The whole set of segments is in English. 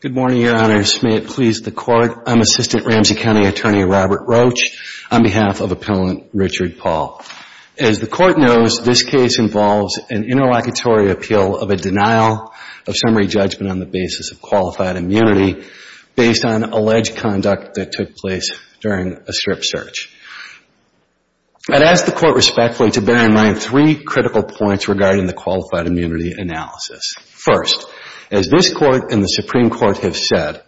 Good morning, Your Honors. May it please the Court, I'm Assistant Ramsey County Attorney Robert Roach on behalf of Appellant Richard Paul. As the Court knows, this case involves an interlocutory appeal of a denial of summary judgment on the basis of qualified immunity based on alleged conduct that took place during a strip search. I'd ask the Court respectfully to bear in mind three critical points regarding the qualified immunity analysis. First, as this Court and the Supreme Court have said,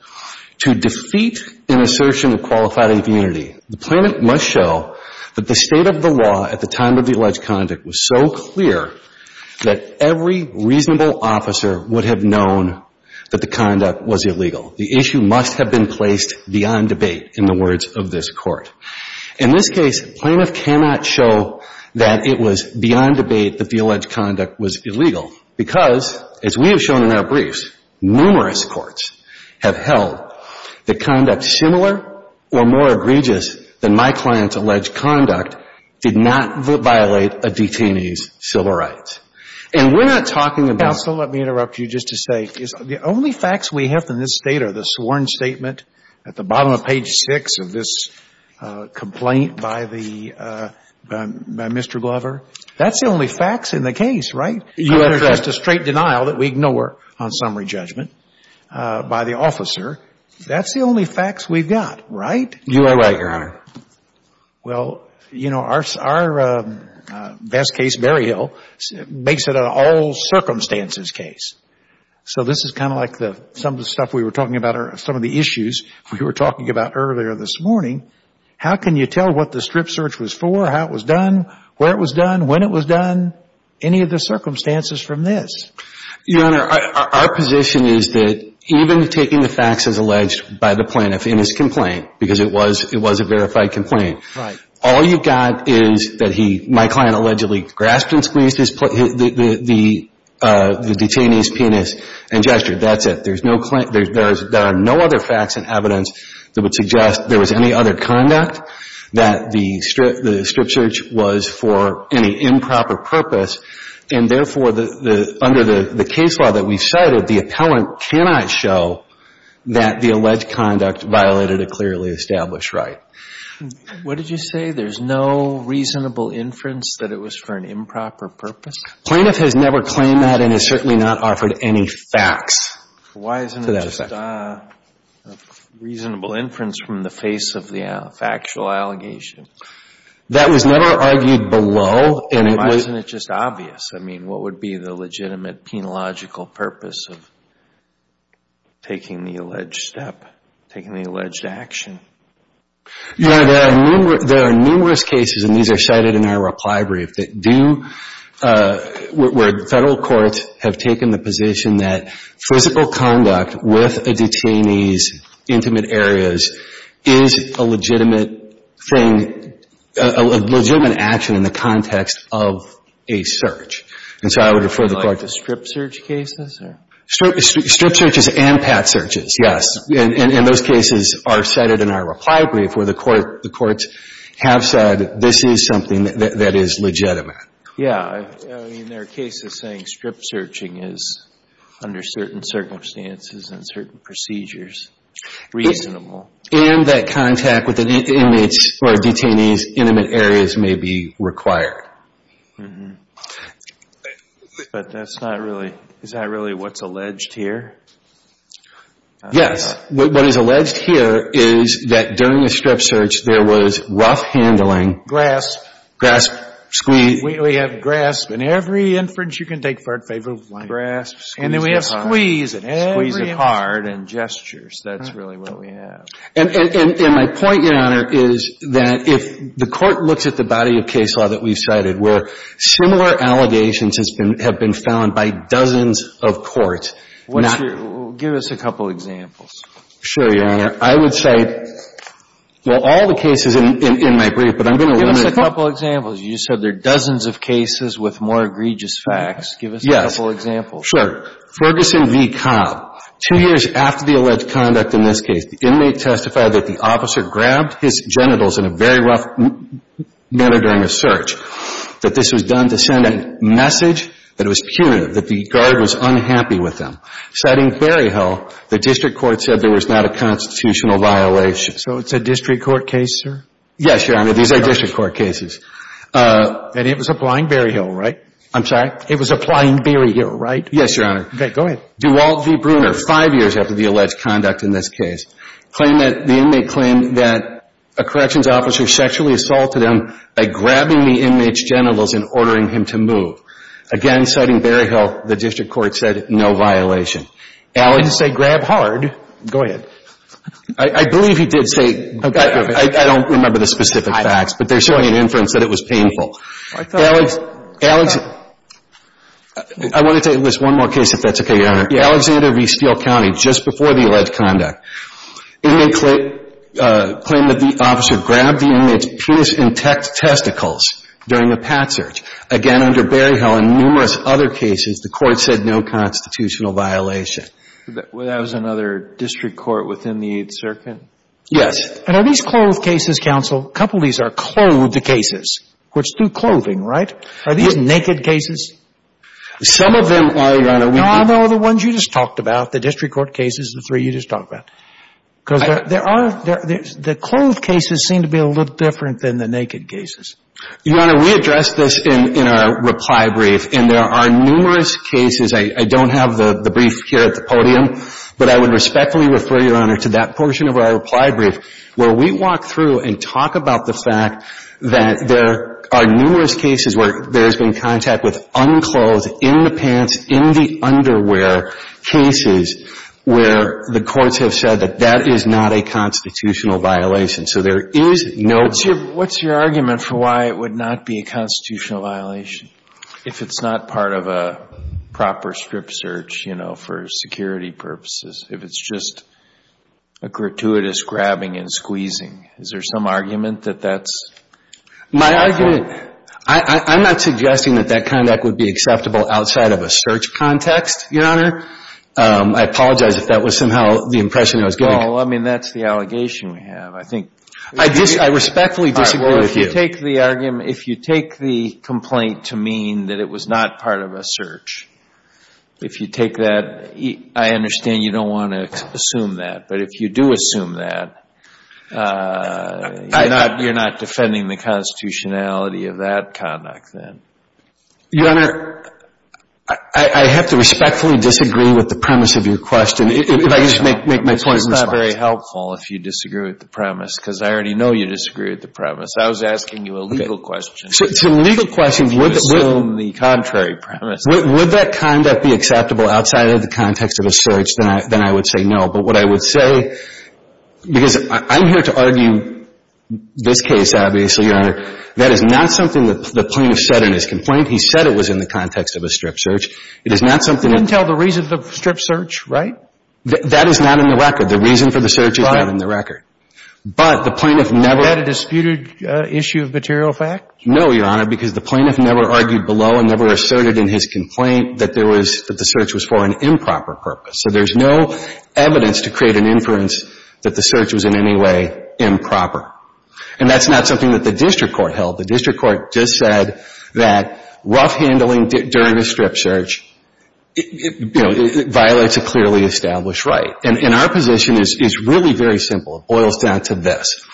to defeat an assertion of qualified immunity, the plaintiff must show that the state of the law at the time of the alleged conduct was so clear that every reasonable officer would have known that the conduct was illegal. The issue must have been placed beyond debate in the words of this Court. In this case, plaintiff cannot show that it was beyond debate that the alleged conduct was illegal because, as we have shown in our briefs, numerous courts have held that conduct similar or more egregious than my client's alleged conduct did not violate a detainee's civil rights. And we're not talking about the only facts we have in this State are the sworn statement at the bottom of page 6 of this complaint by the, by Mr. Glover. That's the only facts in the case, right? You addressed a straight denial that we ignore on summary judgment by the officer. That's the only facts we've got, right? You are right, Your Honor. Well, you know, our, our best case, Berryhill, makes it an all circumstances case. So this is kind of like the, some of the stuff we were talking about are, some of the issues we were talking about earlier this morning. How can you tell what the strip search was for, how it was done, where it was done, when it was done, any of the circumstances from this? Your Honor, our position is that even taking the facts as alleged by the plaintiff in his complaint, because it was, it was a verified complaint. Right. All you've got is that he, my client allegedly grasped and squeezed his, the, the, the detainee's penis and gestured, that's it. There's no, there are no other facts and evidence that would suggest there was any other conduct that the strip, the strip search was for any improper purpose. And therefore, the, the, under the, the case law that we've cited, the appellant cannot show that the alleged conduct violated a clearly established right. What did you say? There's no reasonable inference that it was for an improper purpose? Plaintiff has never claimed that and has certainly not offered any facts to that effect. Why isn't there just a reasonable inference from the face of the factual allegation? That was never argued below, and it was... And why isn't it just obvious? I mean, what would be the legitimate penological purpose of taking the alleged step, taking the alleged action? Your Honor, there are numerous, there are numerous cases, and these are cited in our reply brief, that do, where federal courts have taken the position that physical conduct with a detainee's intimate areas is a legitimate thing, a legitimate action in the context of a search. And so I would refer the Court to... Like the strip search cases, or? Strip searches and pat searches, yes. And, and those cases are cited in our reply brief where the Court, the Courts have said this is something that, that is legitimate. Yeah, I mean, there are cases saying strip searching is, under certain circumstances and certain procedures, reasonable. And that contact with the inmates or detainees' intimate areas may be required. But that's not really, is that really what's alleged here? Yes. What is alleged here is that during a strip search, there was rough handling... Grasp. Grasp, squeeze. We have grasp in every inference you can take for a favorable claim. Grasp, squeeze it hard. And then we have squeeze in every inference. Squeeze it hard and gestures. That's really what we have. And, and, and my point, Your Honor, is that if the Court looks at the body of case law that we've cited where similar allegations have been found by dozens of courts, not... Give us a couple of examples. Sure, Your Honor. I would say, well, all the cases in, in my brief, but I'm going to limit to a couple of examples. You said there are dozens of cases with more egregious facts. Give us a couple of examples. Yes. Sure. Ferguson v. Cobb. Two years after the alleged conduct in this case, the inmate testified that the officer grabbed his genitals in a very rough manner during a search, that this was done to send a message that it was punitive, that the guard was unhappy with him. Citing Berryhill, the district court said there was not a constitutional violation. So it's a district court case, sir? Yes, Your Honor. These are district court cases. And it was applying Berryhill, right? I'm sorry? It was applying Berryhill, right? Yes, Your Honor. Okay. Go ahead. Duval v. Brunner. Five years after the alleged conduct in this case. Claimed that, the inmate claimed that a corrections officer sexually assaulted him by grabbing the inmate's genitals and ordering him to move. Again, citing Berryhill, the district court said no violation. I didn't say grab hard. Go ahead. I believe he did say, I don't remember the specific facts, but they're showing an inference that it was painful. I thought it was painful. I want to take this one more case, if that's okay, Your Honor. Yeah. Alexander v. Steele County, just before the alleged conduct. Inmate claimed that the officer grabbed the inmate's penis and testicles during a pat search. Again, under Berryhill and numerous other cases, the court said no constitutional violation. That was another district court within the Eighth Circuit? Yes. And are these clothed cases, counsel? A couple of these are clothed cases. Which, through clothing, right? Are these naked cases? Some of them are, Your Honor. No, the ones you just talked about, the district court cases, the three you just talked about. Because there are, the clothed cases seem to be a little different than the naked cases. Your Honor, we addressed this in our reply brief, and there are numerous cases. I don't have the brief here at the podium, but I would respectfully refer, Your Honor, to that portion of our reply brief, where we walk through and talk about the fact that there are numerous cases where there's been contact with unclothed, in the pants, in the underwear cases, where the courts have said that that is not a constitutional violation. So there is no... What's your argument for why it would not be a constitutional violation if it's not part of a proper strip search, you know, for security purposes, if it's just a gratuitous grabbing and squeezing? Is there some argument that that's... My argument, I'm not suggesting that that kind of act would be acceptable outside of a search context, Your Honor. I apologize if that was somehow the impression I was getting. Well, I mean, that's the allegation we have. I think... I respectfully disagree with you. If you take the argument, if you take the complaint to mean that it was not part of a search, if you take that, I understand you don't want to assume that. But if you do assume that, you're not defending the constitutionality of that conduct then. Your Honor, I have to respectfully disagree with the premise of your question. If I could just make my point in response. It's not very helpful if you disagree with the premise, because I already know you I was asking you a legal question. To legal questions, would... You assume the contrary premise. Would that conduct be acceptable outside of the context of a search? Then I would say no. But what I would say, because I'm here to argue this case, obviously, Your Honor, that is not something that the plaintiff said in his complaint. He said it was in the context of a strip search. It is not something... He didn't tell the reason for the strip search, right? That is not in the record. The reason for the search is not in the record. But the plaintiff never... No, Your Honor, because the plaintiff never argued below and never asserted in his complaint that there was, that the search was for an improper purpose. So there's no evidence to create an inference that the search was in any way improper. And that's not something that the district court held. The district court just said that rough handling during a strip search, you know, violates a clearly established right. And our position is really very simple. It boils down to this.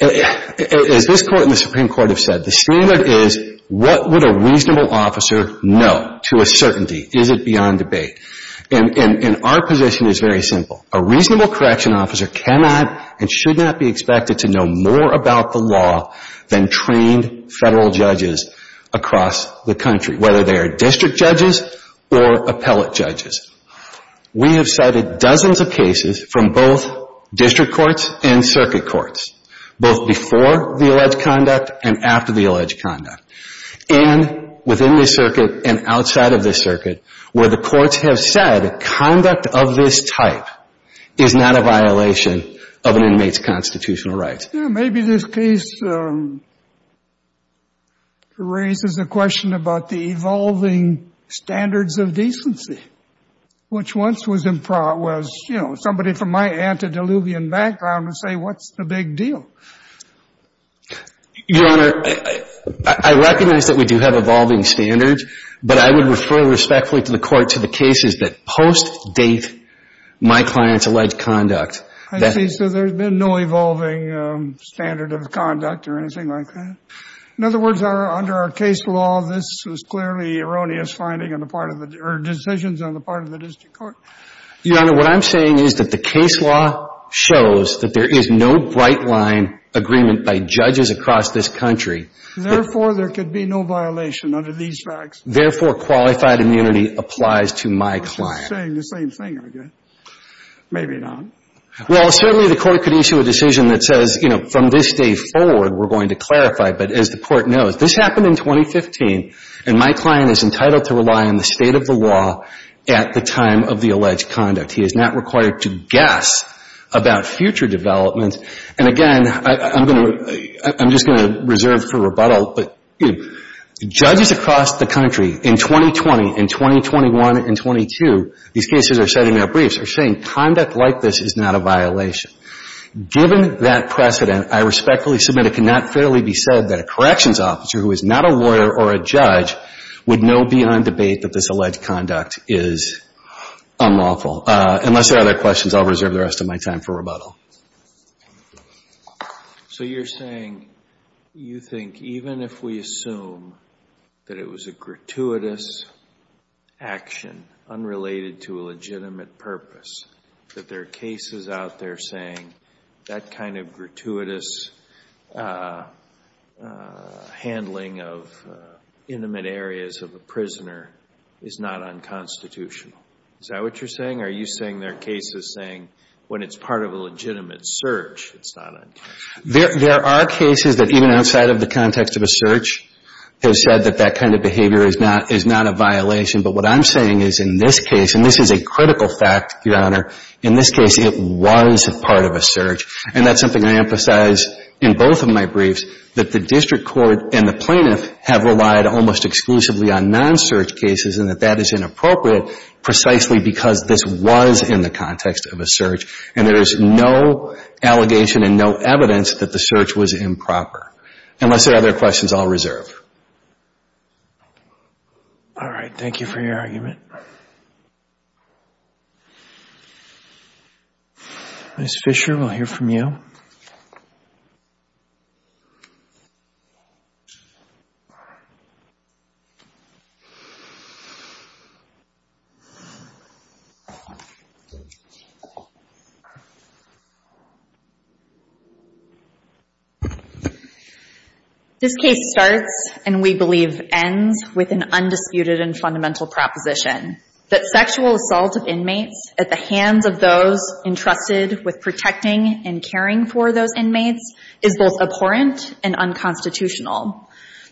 As this Court and the Supreme Court have said, the standard is what would a reasonable officer know to a certainty? Is it beyond debate? And our position is very simple. A reasonable correction officer cannot and should not be expected to know more about the law than trained Federal judges across the country, whether they are district judges or appellate judges. We have cited dozens of cases from both district courts and circuit courts, both before the alleged conduct and after the alleged conduct, and within the circuit and outside of the circuit, where the courts have said conduct of this type is not a violation of an inmate's constitutional rights. Yeah, maybe this case raises a question about the evolving standards of decency, which once was, you know, somebody from my antediluvian background would say, what's the big deal? Your Honor, I recognize that we do have evolving standards, but I would refer respectfully to the Court to the cases that post-date my client's alleged conduct. I see. So there's been no evolving standard of conduct or anything like that. In other words, under our case law, this was clearly erroneous finding on the part of the or decisions on the part of the district court. Your Honor, what I'm saying is that the case law shows that there is no bright line agreement by judges across this country. Therefore, there could be no violation under these facts. Therefore, qualified immunity applies to my client. You're saying the same thing again. Maybe not. Well, certainly the Court could issue a decision that says, you know, from this day forward, we're going to clarify. But as the Court knows, this happened in 2015, and my client is entitled to rely on the state of the law at the time of the alleged conduct. He is not required to guess about future development. And again, I'm going to reserve for rebuttal, but judges across the country in 2020, in 2021, and in 2022, these cases are setting up briefs, are saying conduct like this is not a violation. Given that precedent, I respectfully submit it cannot fairly be said that a corrections officer who is not a lawyer or a judge would know beyond debate that this alleged conduct is unlawful. Unless there are other questions, I'll reserve the rest of my time for rebuttal. So you're saying you think even if we assume that it was a gratuitous action unrelated to a legitimate purpose, that there are cases out there saying that kind of gratuitous handling of intimate areas of a prisoner is not unconstitutional? Is that what you're saying? Are you saying there are cases saying when it's part of a legitimate search, it's not unconstitutional? There are cases that even outside of the context of a search have said that that kind of behavior is not a violation. But what I'm saying is in this case, and this is a critical fact, Your Honor, in this case, it was part of a search. And that's something I emphasize in both of my briefs, that the district court and the plaintiff have relied almost exclusively on non-search cases and that that is inappropriate precisely because this was in the context of a search and there is no allegation and no evidence that the search was improper. Unless there are other questions, I'll reserve. All right. Thank you for your argument. Ms. Fisher, we'll hear from you. All right. This case starts, and we believe ends, with an undisputed and fundamental proposition that sexual assault of inmates at the hands of those entrusted with protecting and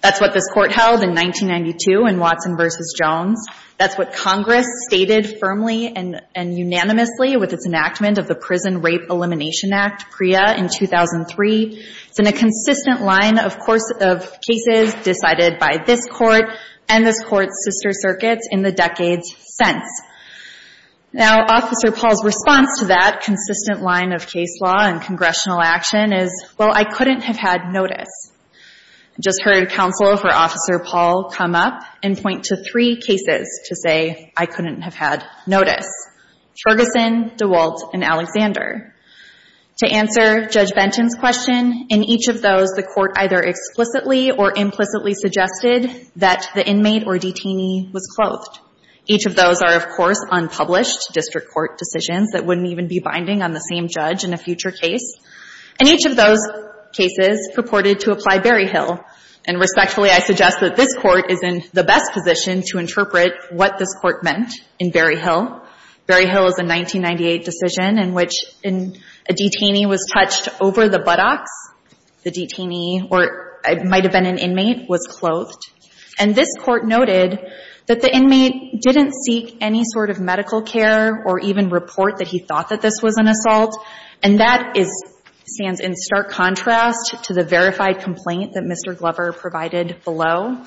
That's what this Court held in 1992 in Watson v. Jones. That's what Congress stated firmly and unanimously with its enactment of the Prison Rape Elimination Act, PREA, in 2003. It's been a consistent line, of course, of cases decided by this Court and this Court's sister circuits in the decades since. Now, Officer Paul's response to that consistent line of case law and congressional action is, well, I couldn't have had notice. I just heard Counselor for Officer Paul come up and point to three cases to say, I couldn't have had notice. Ferguson, DeWalt, and Alexander. To answer Judge Benton's question, in each of those, the Court either explicitly or implicitly suggested that the inmate or detainee was clothed. Each of those are, of course, unpublished district court decisions that wouldn't even be binding on the same judge in a future case. And each of those cases purported to apply Berryhill. And respectfully, I suggest that this Court is in the best position to interpret what this Court meant in Berryhill. Berryhill is a 1998 decision in which a detainee was touched over the buttocks. The detainee, or it might have been an inmate, was clothed. And this Court noted that the inmate didn't seek any sort of medical care or even report that he thought that this was an assault. And that is – stands in stark contrast to the verified complaint that Mr. Glover provided below.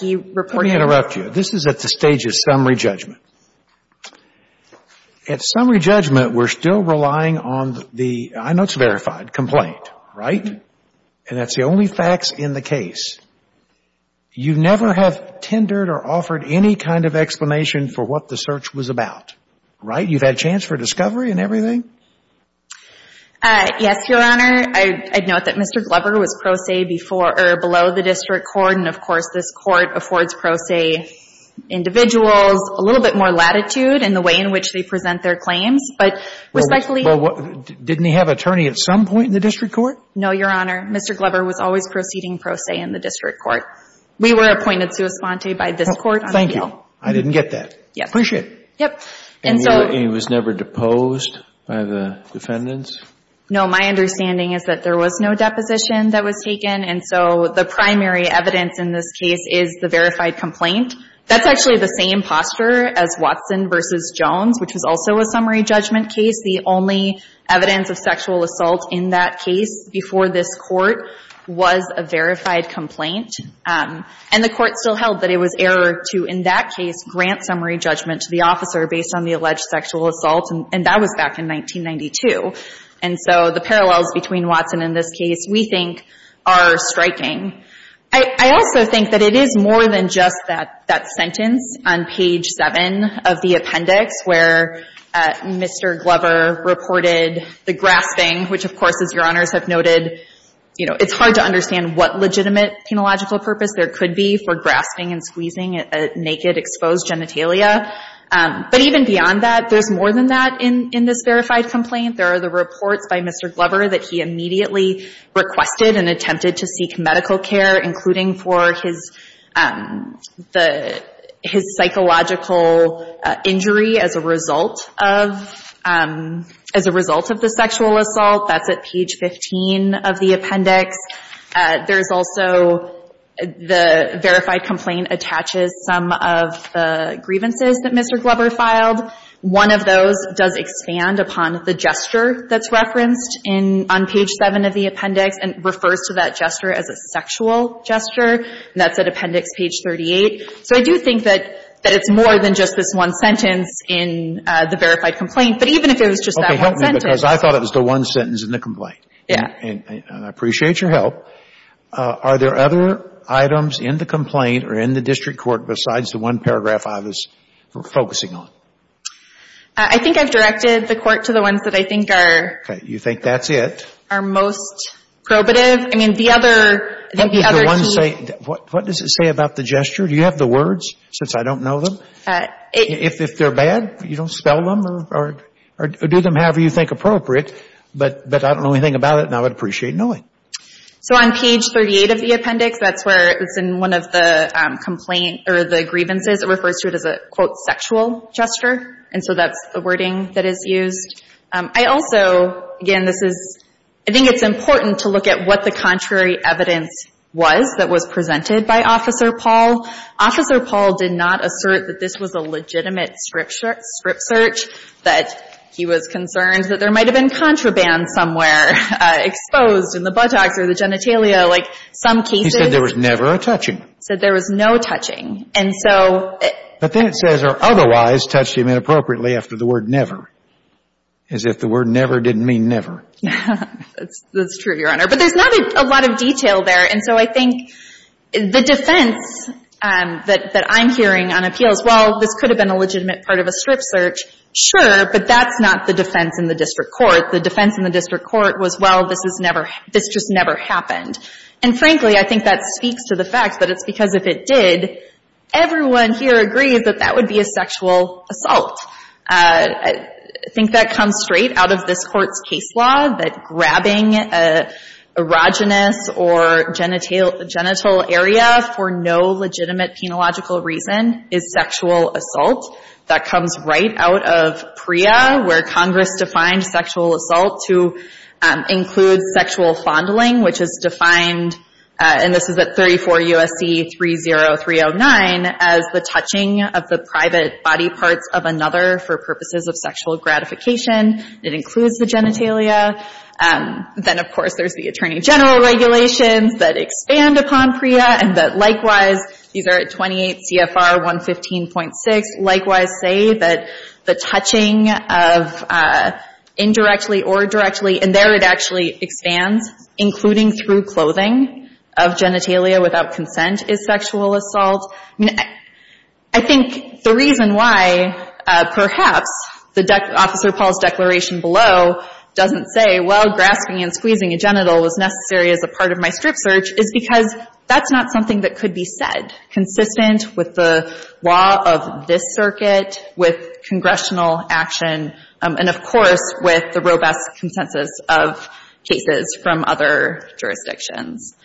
He reported – Let me interrupt you. This is at the stage of summary judgment. At summary judgment, we're still relying on the – I know it's verified complaint, right? And that's the only facts in the case. You never have tendered or offered any kind of explanation for what the search was about, right? You've had chance for discovery and everything? Yes, Your Honor. I'd note that Mr. Glover was pro se before or below the District Court. And of course, this Court affords pro se individuals a little bit more latitude in the way in which they present their claims. But respectfully – Well, didn't he have attorney at some point in the District Court? No, Your Honor. Mr. Glover was always proceeding pro se in the District Court. We were appointed sua sponte by this Court on appeal. Thank you. I didn't get that. Appreciate it. And he was never deposed by the defendants? No. My understanding is that there was no deposition that was taken. And so the primary evidence in this case is the verified complaint. That's actually the same posture as Watson v. Jones, which was also a summary judgment case. The only evidence of sexual assault in that case before this Court was a verified complaint. And the Court still held that it was error to, in that case, grant summary judgment to the officer based on the alleged sexual assault. And that was back in 1992. And so the parallels between Watson and this case, we think, are striking. I also think that it is more than just that sentence on page 7 of the appendix where Mr. Glover reported the grasping, which, of course, as Your Honors have noted, you know, it's hard to understand what legitimate penological purpose there could be for grasping and squeezing a naked, exposed genitalia. But even beyond that, there's more than that in this verified complaint. There are the reports by Mr. Glover that he immediately requested and attempted to seek medical care, including for his psychological injury as a result of the sexual assault. That's at page 15 of the appendix. There's also the verified complaint attaches some of the grievances that Mr. Glover filed. One of those does expand upon the gesture that's referenced on page 7 of the appendix and refers to that gesture as a sexual gesture. And that's at appendix page 38. So I do think that it's more than just this one sentence in the verified complaint, but even if it was just that one sentence. Okay. Help me, because I thought it was the one sentence in the complaint. Yeah. And I appreciate your help. Are there other items in the complaint or in the district court besides the one paragraph I was focusing on? I think I've directed the court to the ones that I think are. Okay. You think that's it? Are most probative. I mean, the other key. What does it say about the gesture? Do you have the words, since I don't know them? If they're bad, you don't spell them or do them however you think appropriate. But I don't know anything about it, and I would appreciate knowing. So on page 38 of the appendix, that's where it's in one of the complaints or the grievances, it refers to it as a, quote, sexual gesture. And so that's the wording that is used. I also, again, this is, I think it's important to look at what the contrary evidence was that was presented by Officer Paul. Officer Paul did not assert that this was a legitimate script search, that he was concerned that there might have been contraband somewhere exposed in the buttocks or the genitalia. Like some cases. He said there was never a touching. He said there was no touching. And so. But then it says or otherwise touched him inappropriately after the word never, as if the word never didn't mean never. That's true, Your Honor. But there's not a lot of detail there. And so I think the defense that I'm hearing on appeals, well, this could have been a legitimate part of a script search, sure. But that's not the defense in the district court. The defense in the district court was, well, this just never happened. And frankly, I think that speaks to the fact that it's because if it did, everyone here agrees that that would be a sexual assault. I think that comes straight out of this Court's case law, that grabbing an erogenous or genital area for no legitimate penological reason is sexual assault. That comes right out of PREA, where Congress defined sexual assault to include sexual fondling, which is defined, and this is at 34 U.S.C. 30309, as the touching of the private body parts of another for purposes of sexual gratification. It includes the genitalia. Then, of course, there's the Attorney General regulations that expand upon PREA and that likewise, these are at 28 CFR 115.6, likewise say that the touching of indirectly or directly, and there it actually expands, including through clothing of genitalia without consent is sexual assault. I mean, I think the reason why perhaps Officer Paul's declaration below doesn't say, well, grasping and squeezing a genital was necessary as a part of my script search is because that's not something that could be said consistent with the law of this circuit, with congressional action, and, of course, with the robust consensus of cases from other jurisdictions.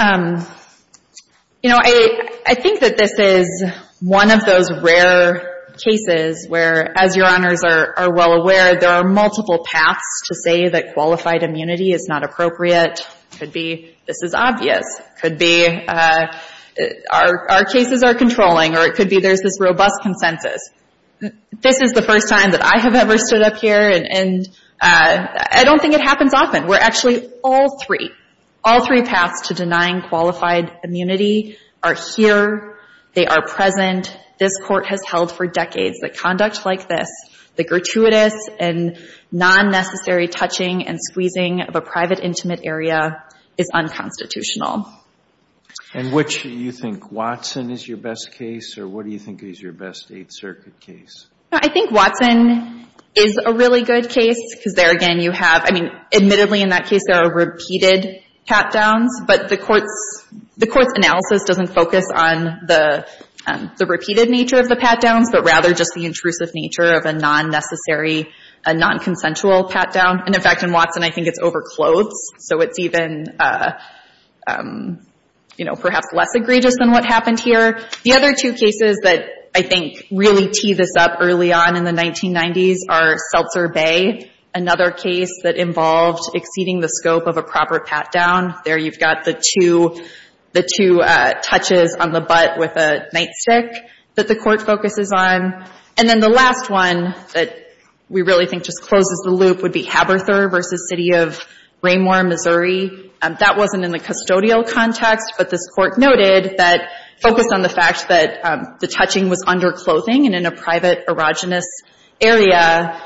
You know, I think that this is one of those rare cases where, as Your Honors are well aware, there are multiple paths to say that qualified immunity is not appropriate. It could be this is obvious. It could be our cases are controlling, or it could be there's this robust consensus. This is the first time that I have ever stood up here, and I don't think it happens often. We're actually all three. All three paths to denying qualified immunity are here. They are present. This Court has held for decades that conduct like this, the gratuitous and non-necessary touching and squeezing of a private intimate area, is unconstitutional. And which do you think, Watson is your best case, or what do you think is your best Eighth Circuit case? I think Watson is a really good case because there again you have, I mean, admittedly in that case there are repeated pat-downs, but the Court's analysis doesn't focus on the repeated nature of the pat-downs, but rather just the intrusive nature of a non-necessary, a non-consensual pat-down. And, in fact, in Watson I think it's over clothes, so it's even perhaps less egregious than what happened here. The other two cases that I think really tee this up early on in the 1990s are Seltzer Bay, another case that involved exceeding the scope of a proper pat-down. There you've got the two touches on the butt with a nightstick that the Court focuses on. And then the last one that we really think just closes the loop would be Haberther versus City of Raymoor, Missouri. That wasn't in the custodial context, but this Court noted that focused on the fact that the touching was under clothing and in a private erogenous area,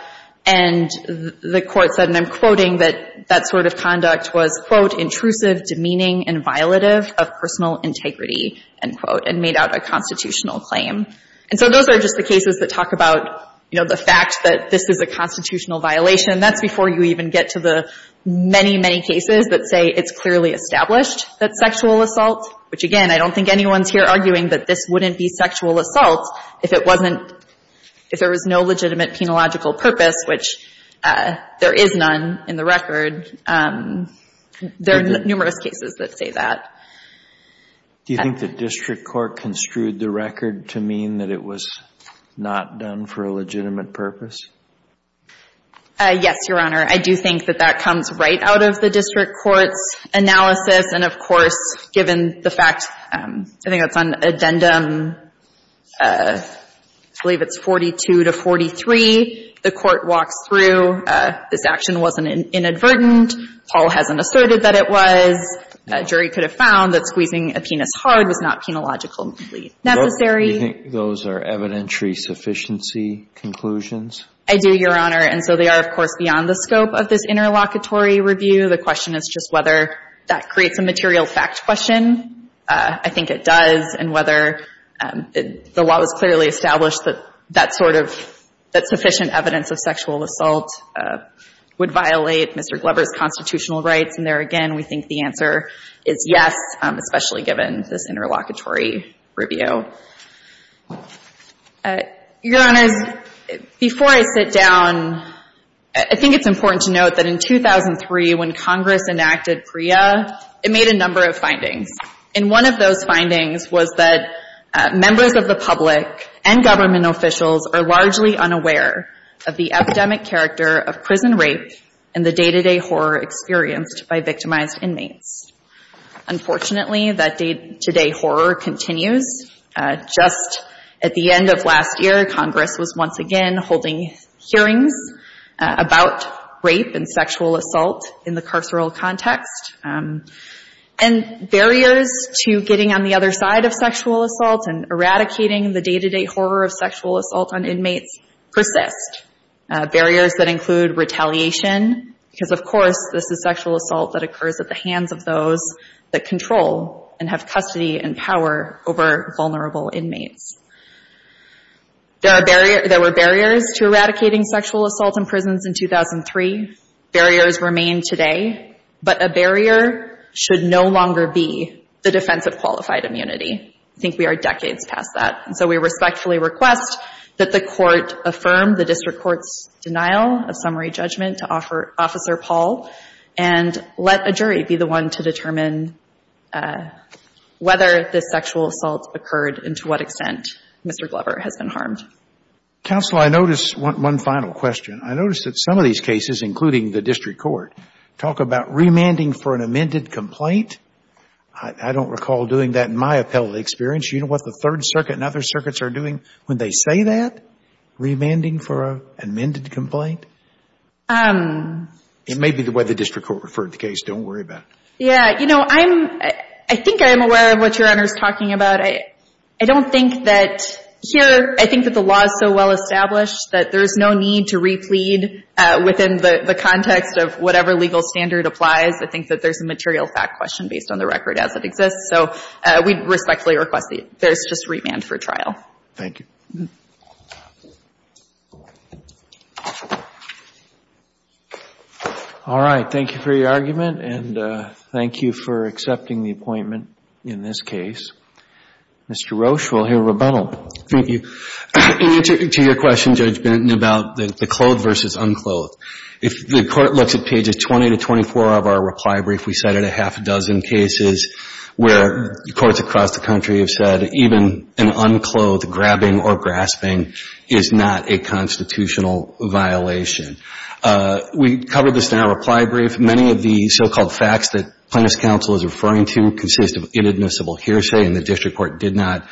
and the Court said, and I'm quoting, that that sort of conduct was, quote, intrusive, demeaning, and violative of personal integrity, end quote, and made out a constitutional claim. And so those are just the cases that talk about, you know, the fact that this is a constitutional violation. That's before you even get to the many, many cases that say it's clearly established that sexual assault, which, again, I don't think anyone's here arguing that this wouldn't be sexual assault if it wasn't if there was no legitimate penological purpose, which there is none in the record. There are numerous cases that say that. Do you think the district court construed the record to mean that it was not done for a legitimate purpose? Yes, Your Honor. I do think that that comes right out of the district court's analysis, and, of course, given the fact, I think that's on addendum, I believe it's 42 to 43. The Court walks through. This action wasn't inadvertent. Paul hasn't asserted that it was. A jury could have found that squeezing a penis hard was not penologically necessary. Do you think those are evidentiary sufficiency conclusions? I do, Your Honor, and so they are, of course, beyond the scope of this interlocutory review. The question is just whether that creates a material fact question. I think it does, and whether the law has clearly established that that sort of – that sufficient evidence of sexual assault would violate Mr. Glover's constitutional rights, and there, again, we think the answer is yes, especially given this interlocutory review. Your Honors, before I sit down, I think it's important to note that in 2003, when Congress enacted PREA, it made a number of findings, and one of those findings was that members of the public and government officials are largely unaware of the epidemic character of prison rape and the day-to-day horror experienced by victimized inmates. Unfortunately, that day-to-day horror continues. Just at the end of last year, Congress was once again holding hearings about rape and sexual assault in the carceral context, and barriers to getting on the other side of sexual assault and eradicating the day-to-day horror of sexual assault on inmates persist. This is sexual assault that occurs at the hands of those that control and have custody and power over vulnerable inmates. There were barriers to eradicating sexual assault in prisons in 2003. Barriers remain today, but a barrier should no longer be the defense of qualified immunity. I think we are decades past that, and so we respectfully request that the Court affirm the district court's denial of summary judgment to Officer Paul and let a jury be the one to determine whether this sexual assault occurred and to what extent Mr. Glover has been harmed. Counsel, I notice one final question. I notice that some of these cases, including the district court, talk about remanding for an amended complaint. I don't recall doing that in my appellate experience. You know what the Third Circuit and other circuits are doing when they say that? Remanding for an amended complaint? It may be the way the district court referred the case. Don't worry about it. Yeah. You know, I think I am aware of what Your Honor is talking about. I don't think that here I think that the law is so well established that there is no need to replead within the context of whatever legal standard applies. I think that there is a material fact question based on the record as it exists. So we respectfully request that there is just remand for trial. Thank you. All right. Thank you for your argument and thank you for accepting the appointment in this case. Mr. Roche, we'll hear rebuttal. Thank you. In answer to your question, Judge Benton, about the clothed versus unclothed, if the Court looks at pages 20 to 24 of our reply brief, we cited a half a dozen cases where courts across the country have said even an unclothed grabbing or grasping is not a constitutional violation. We covered this in our reply brief. Many of the so-called facts that Plaintiff's counsel is referring to consist of inadmissible hearsay and the district court did not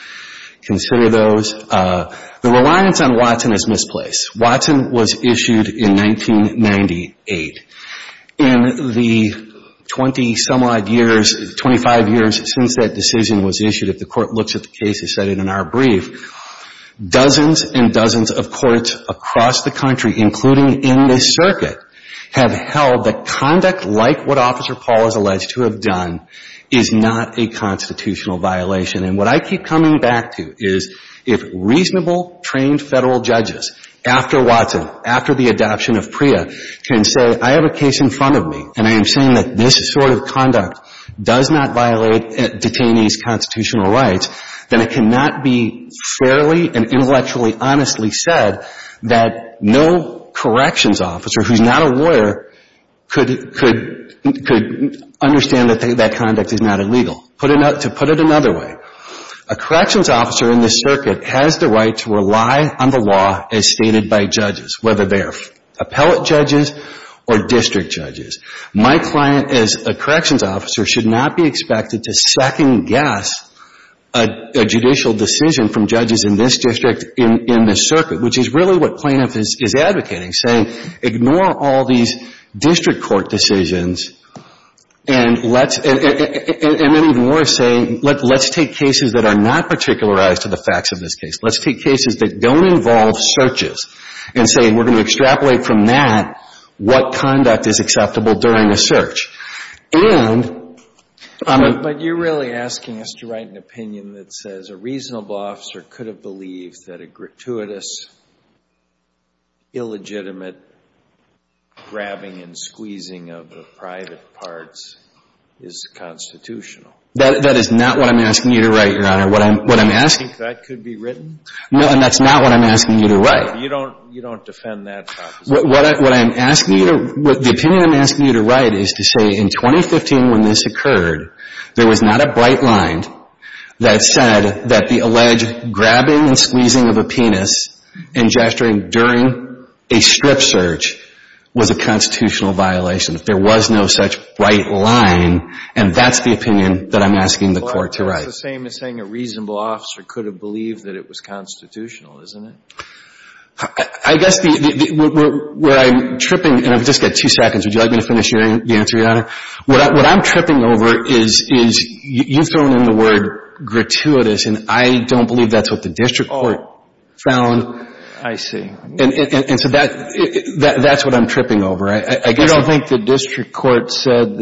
consider those. The reliance on Watson is misplaced. Watson was issued in 1998. In the 20-some-odd years, 25 years since that decision was issued, if the Court looks at the cases cited in our brief, dozens and dozens of courts across the country, including in this circuit, have held that conduct like what Officer Paul is alleged to have done is not a constitutional violation. And what I keep coming back to is if reasonable, trained Federal judges after Watson, after the adoption of PREA, can say, I have a case in front of me and I am saying that this sort of conduct does not violate detainees' constitutional rights, then it cannot be fairly and intellectually honestly said that no corrections officer who is not a lawyer could understand that that conduct is not illegal. To put it another way, a corrections officer in this circuit has the right to rely on the law as stated by judges, whether they are appellate judges or district judges. My client as a corrections officer should not be expected to second-guess a judicial decision from judges in this district in this circuit, which is really what Planoff is advocating, saying ignore all these district court decisions and let's — and maybe even more saying, let's take cases that are not particularized to the facts of this case. Let's take cases that don't involve searches and say we're going to extrapolate from that what conduct is acceptable during a search. And I'm — But you're really asking us to write an opinion that says a reasonable officer could have believed that a gratuitous, illegitimate grabbing and squeezing of private parts is constitutional. That is not what I'm asking you to write, Your Honor. What I'm asking — Do you think that could be written? No, and that's not what I'm asking you to write. You don't defend that proposition. What I'm asking you to — the opinion I'm asking you to write is to say in 2015 when this occurred, there was not a bright line that said that the alleged grabbing and squeezing of a penis and gesturing during a strip search was a constitutional violation. There was no such bright line, and that's the opinion that I'm asking the Court to write. That's the same as saying a reasonable officer could have believed that it was constitutional, isn't it? I guess the — where I'm tripping — and I've just got two seconds. Would you like me to finish the answer, Your Honor? What I'm tripping over is you throwing in the word gratuitous, and I don't believe that's what the district court found. Oh, I see. And so that's what I'm tripping over. I don't think the district court said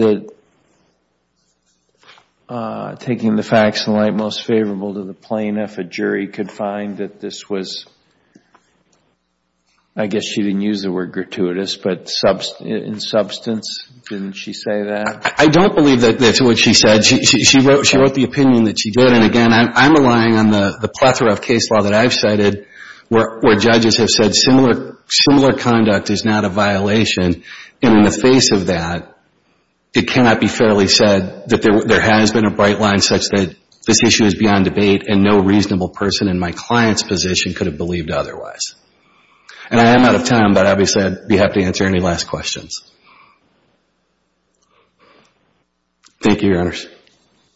that taking the facts in light most favorable to the plaintiff, a jury could find that this was — I guess she didn't use the word gratuitous, but in substance, didn't she say that? I don't believe that that's what she said. She wrote the opinion that she did, and again, I'm relying on the plethora of case law that I've cited where judges have said similar conduct is not a violation, and in the face of that, it cannot be fairly said that there has been a bright line such that this issue is beyond debate and no reasonable person in my client's position could have believed otherwise. And I am out of time, but obviously I'd be happy to answer any last questions. Thank you, Your Honors.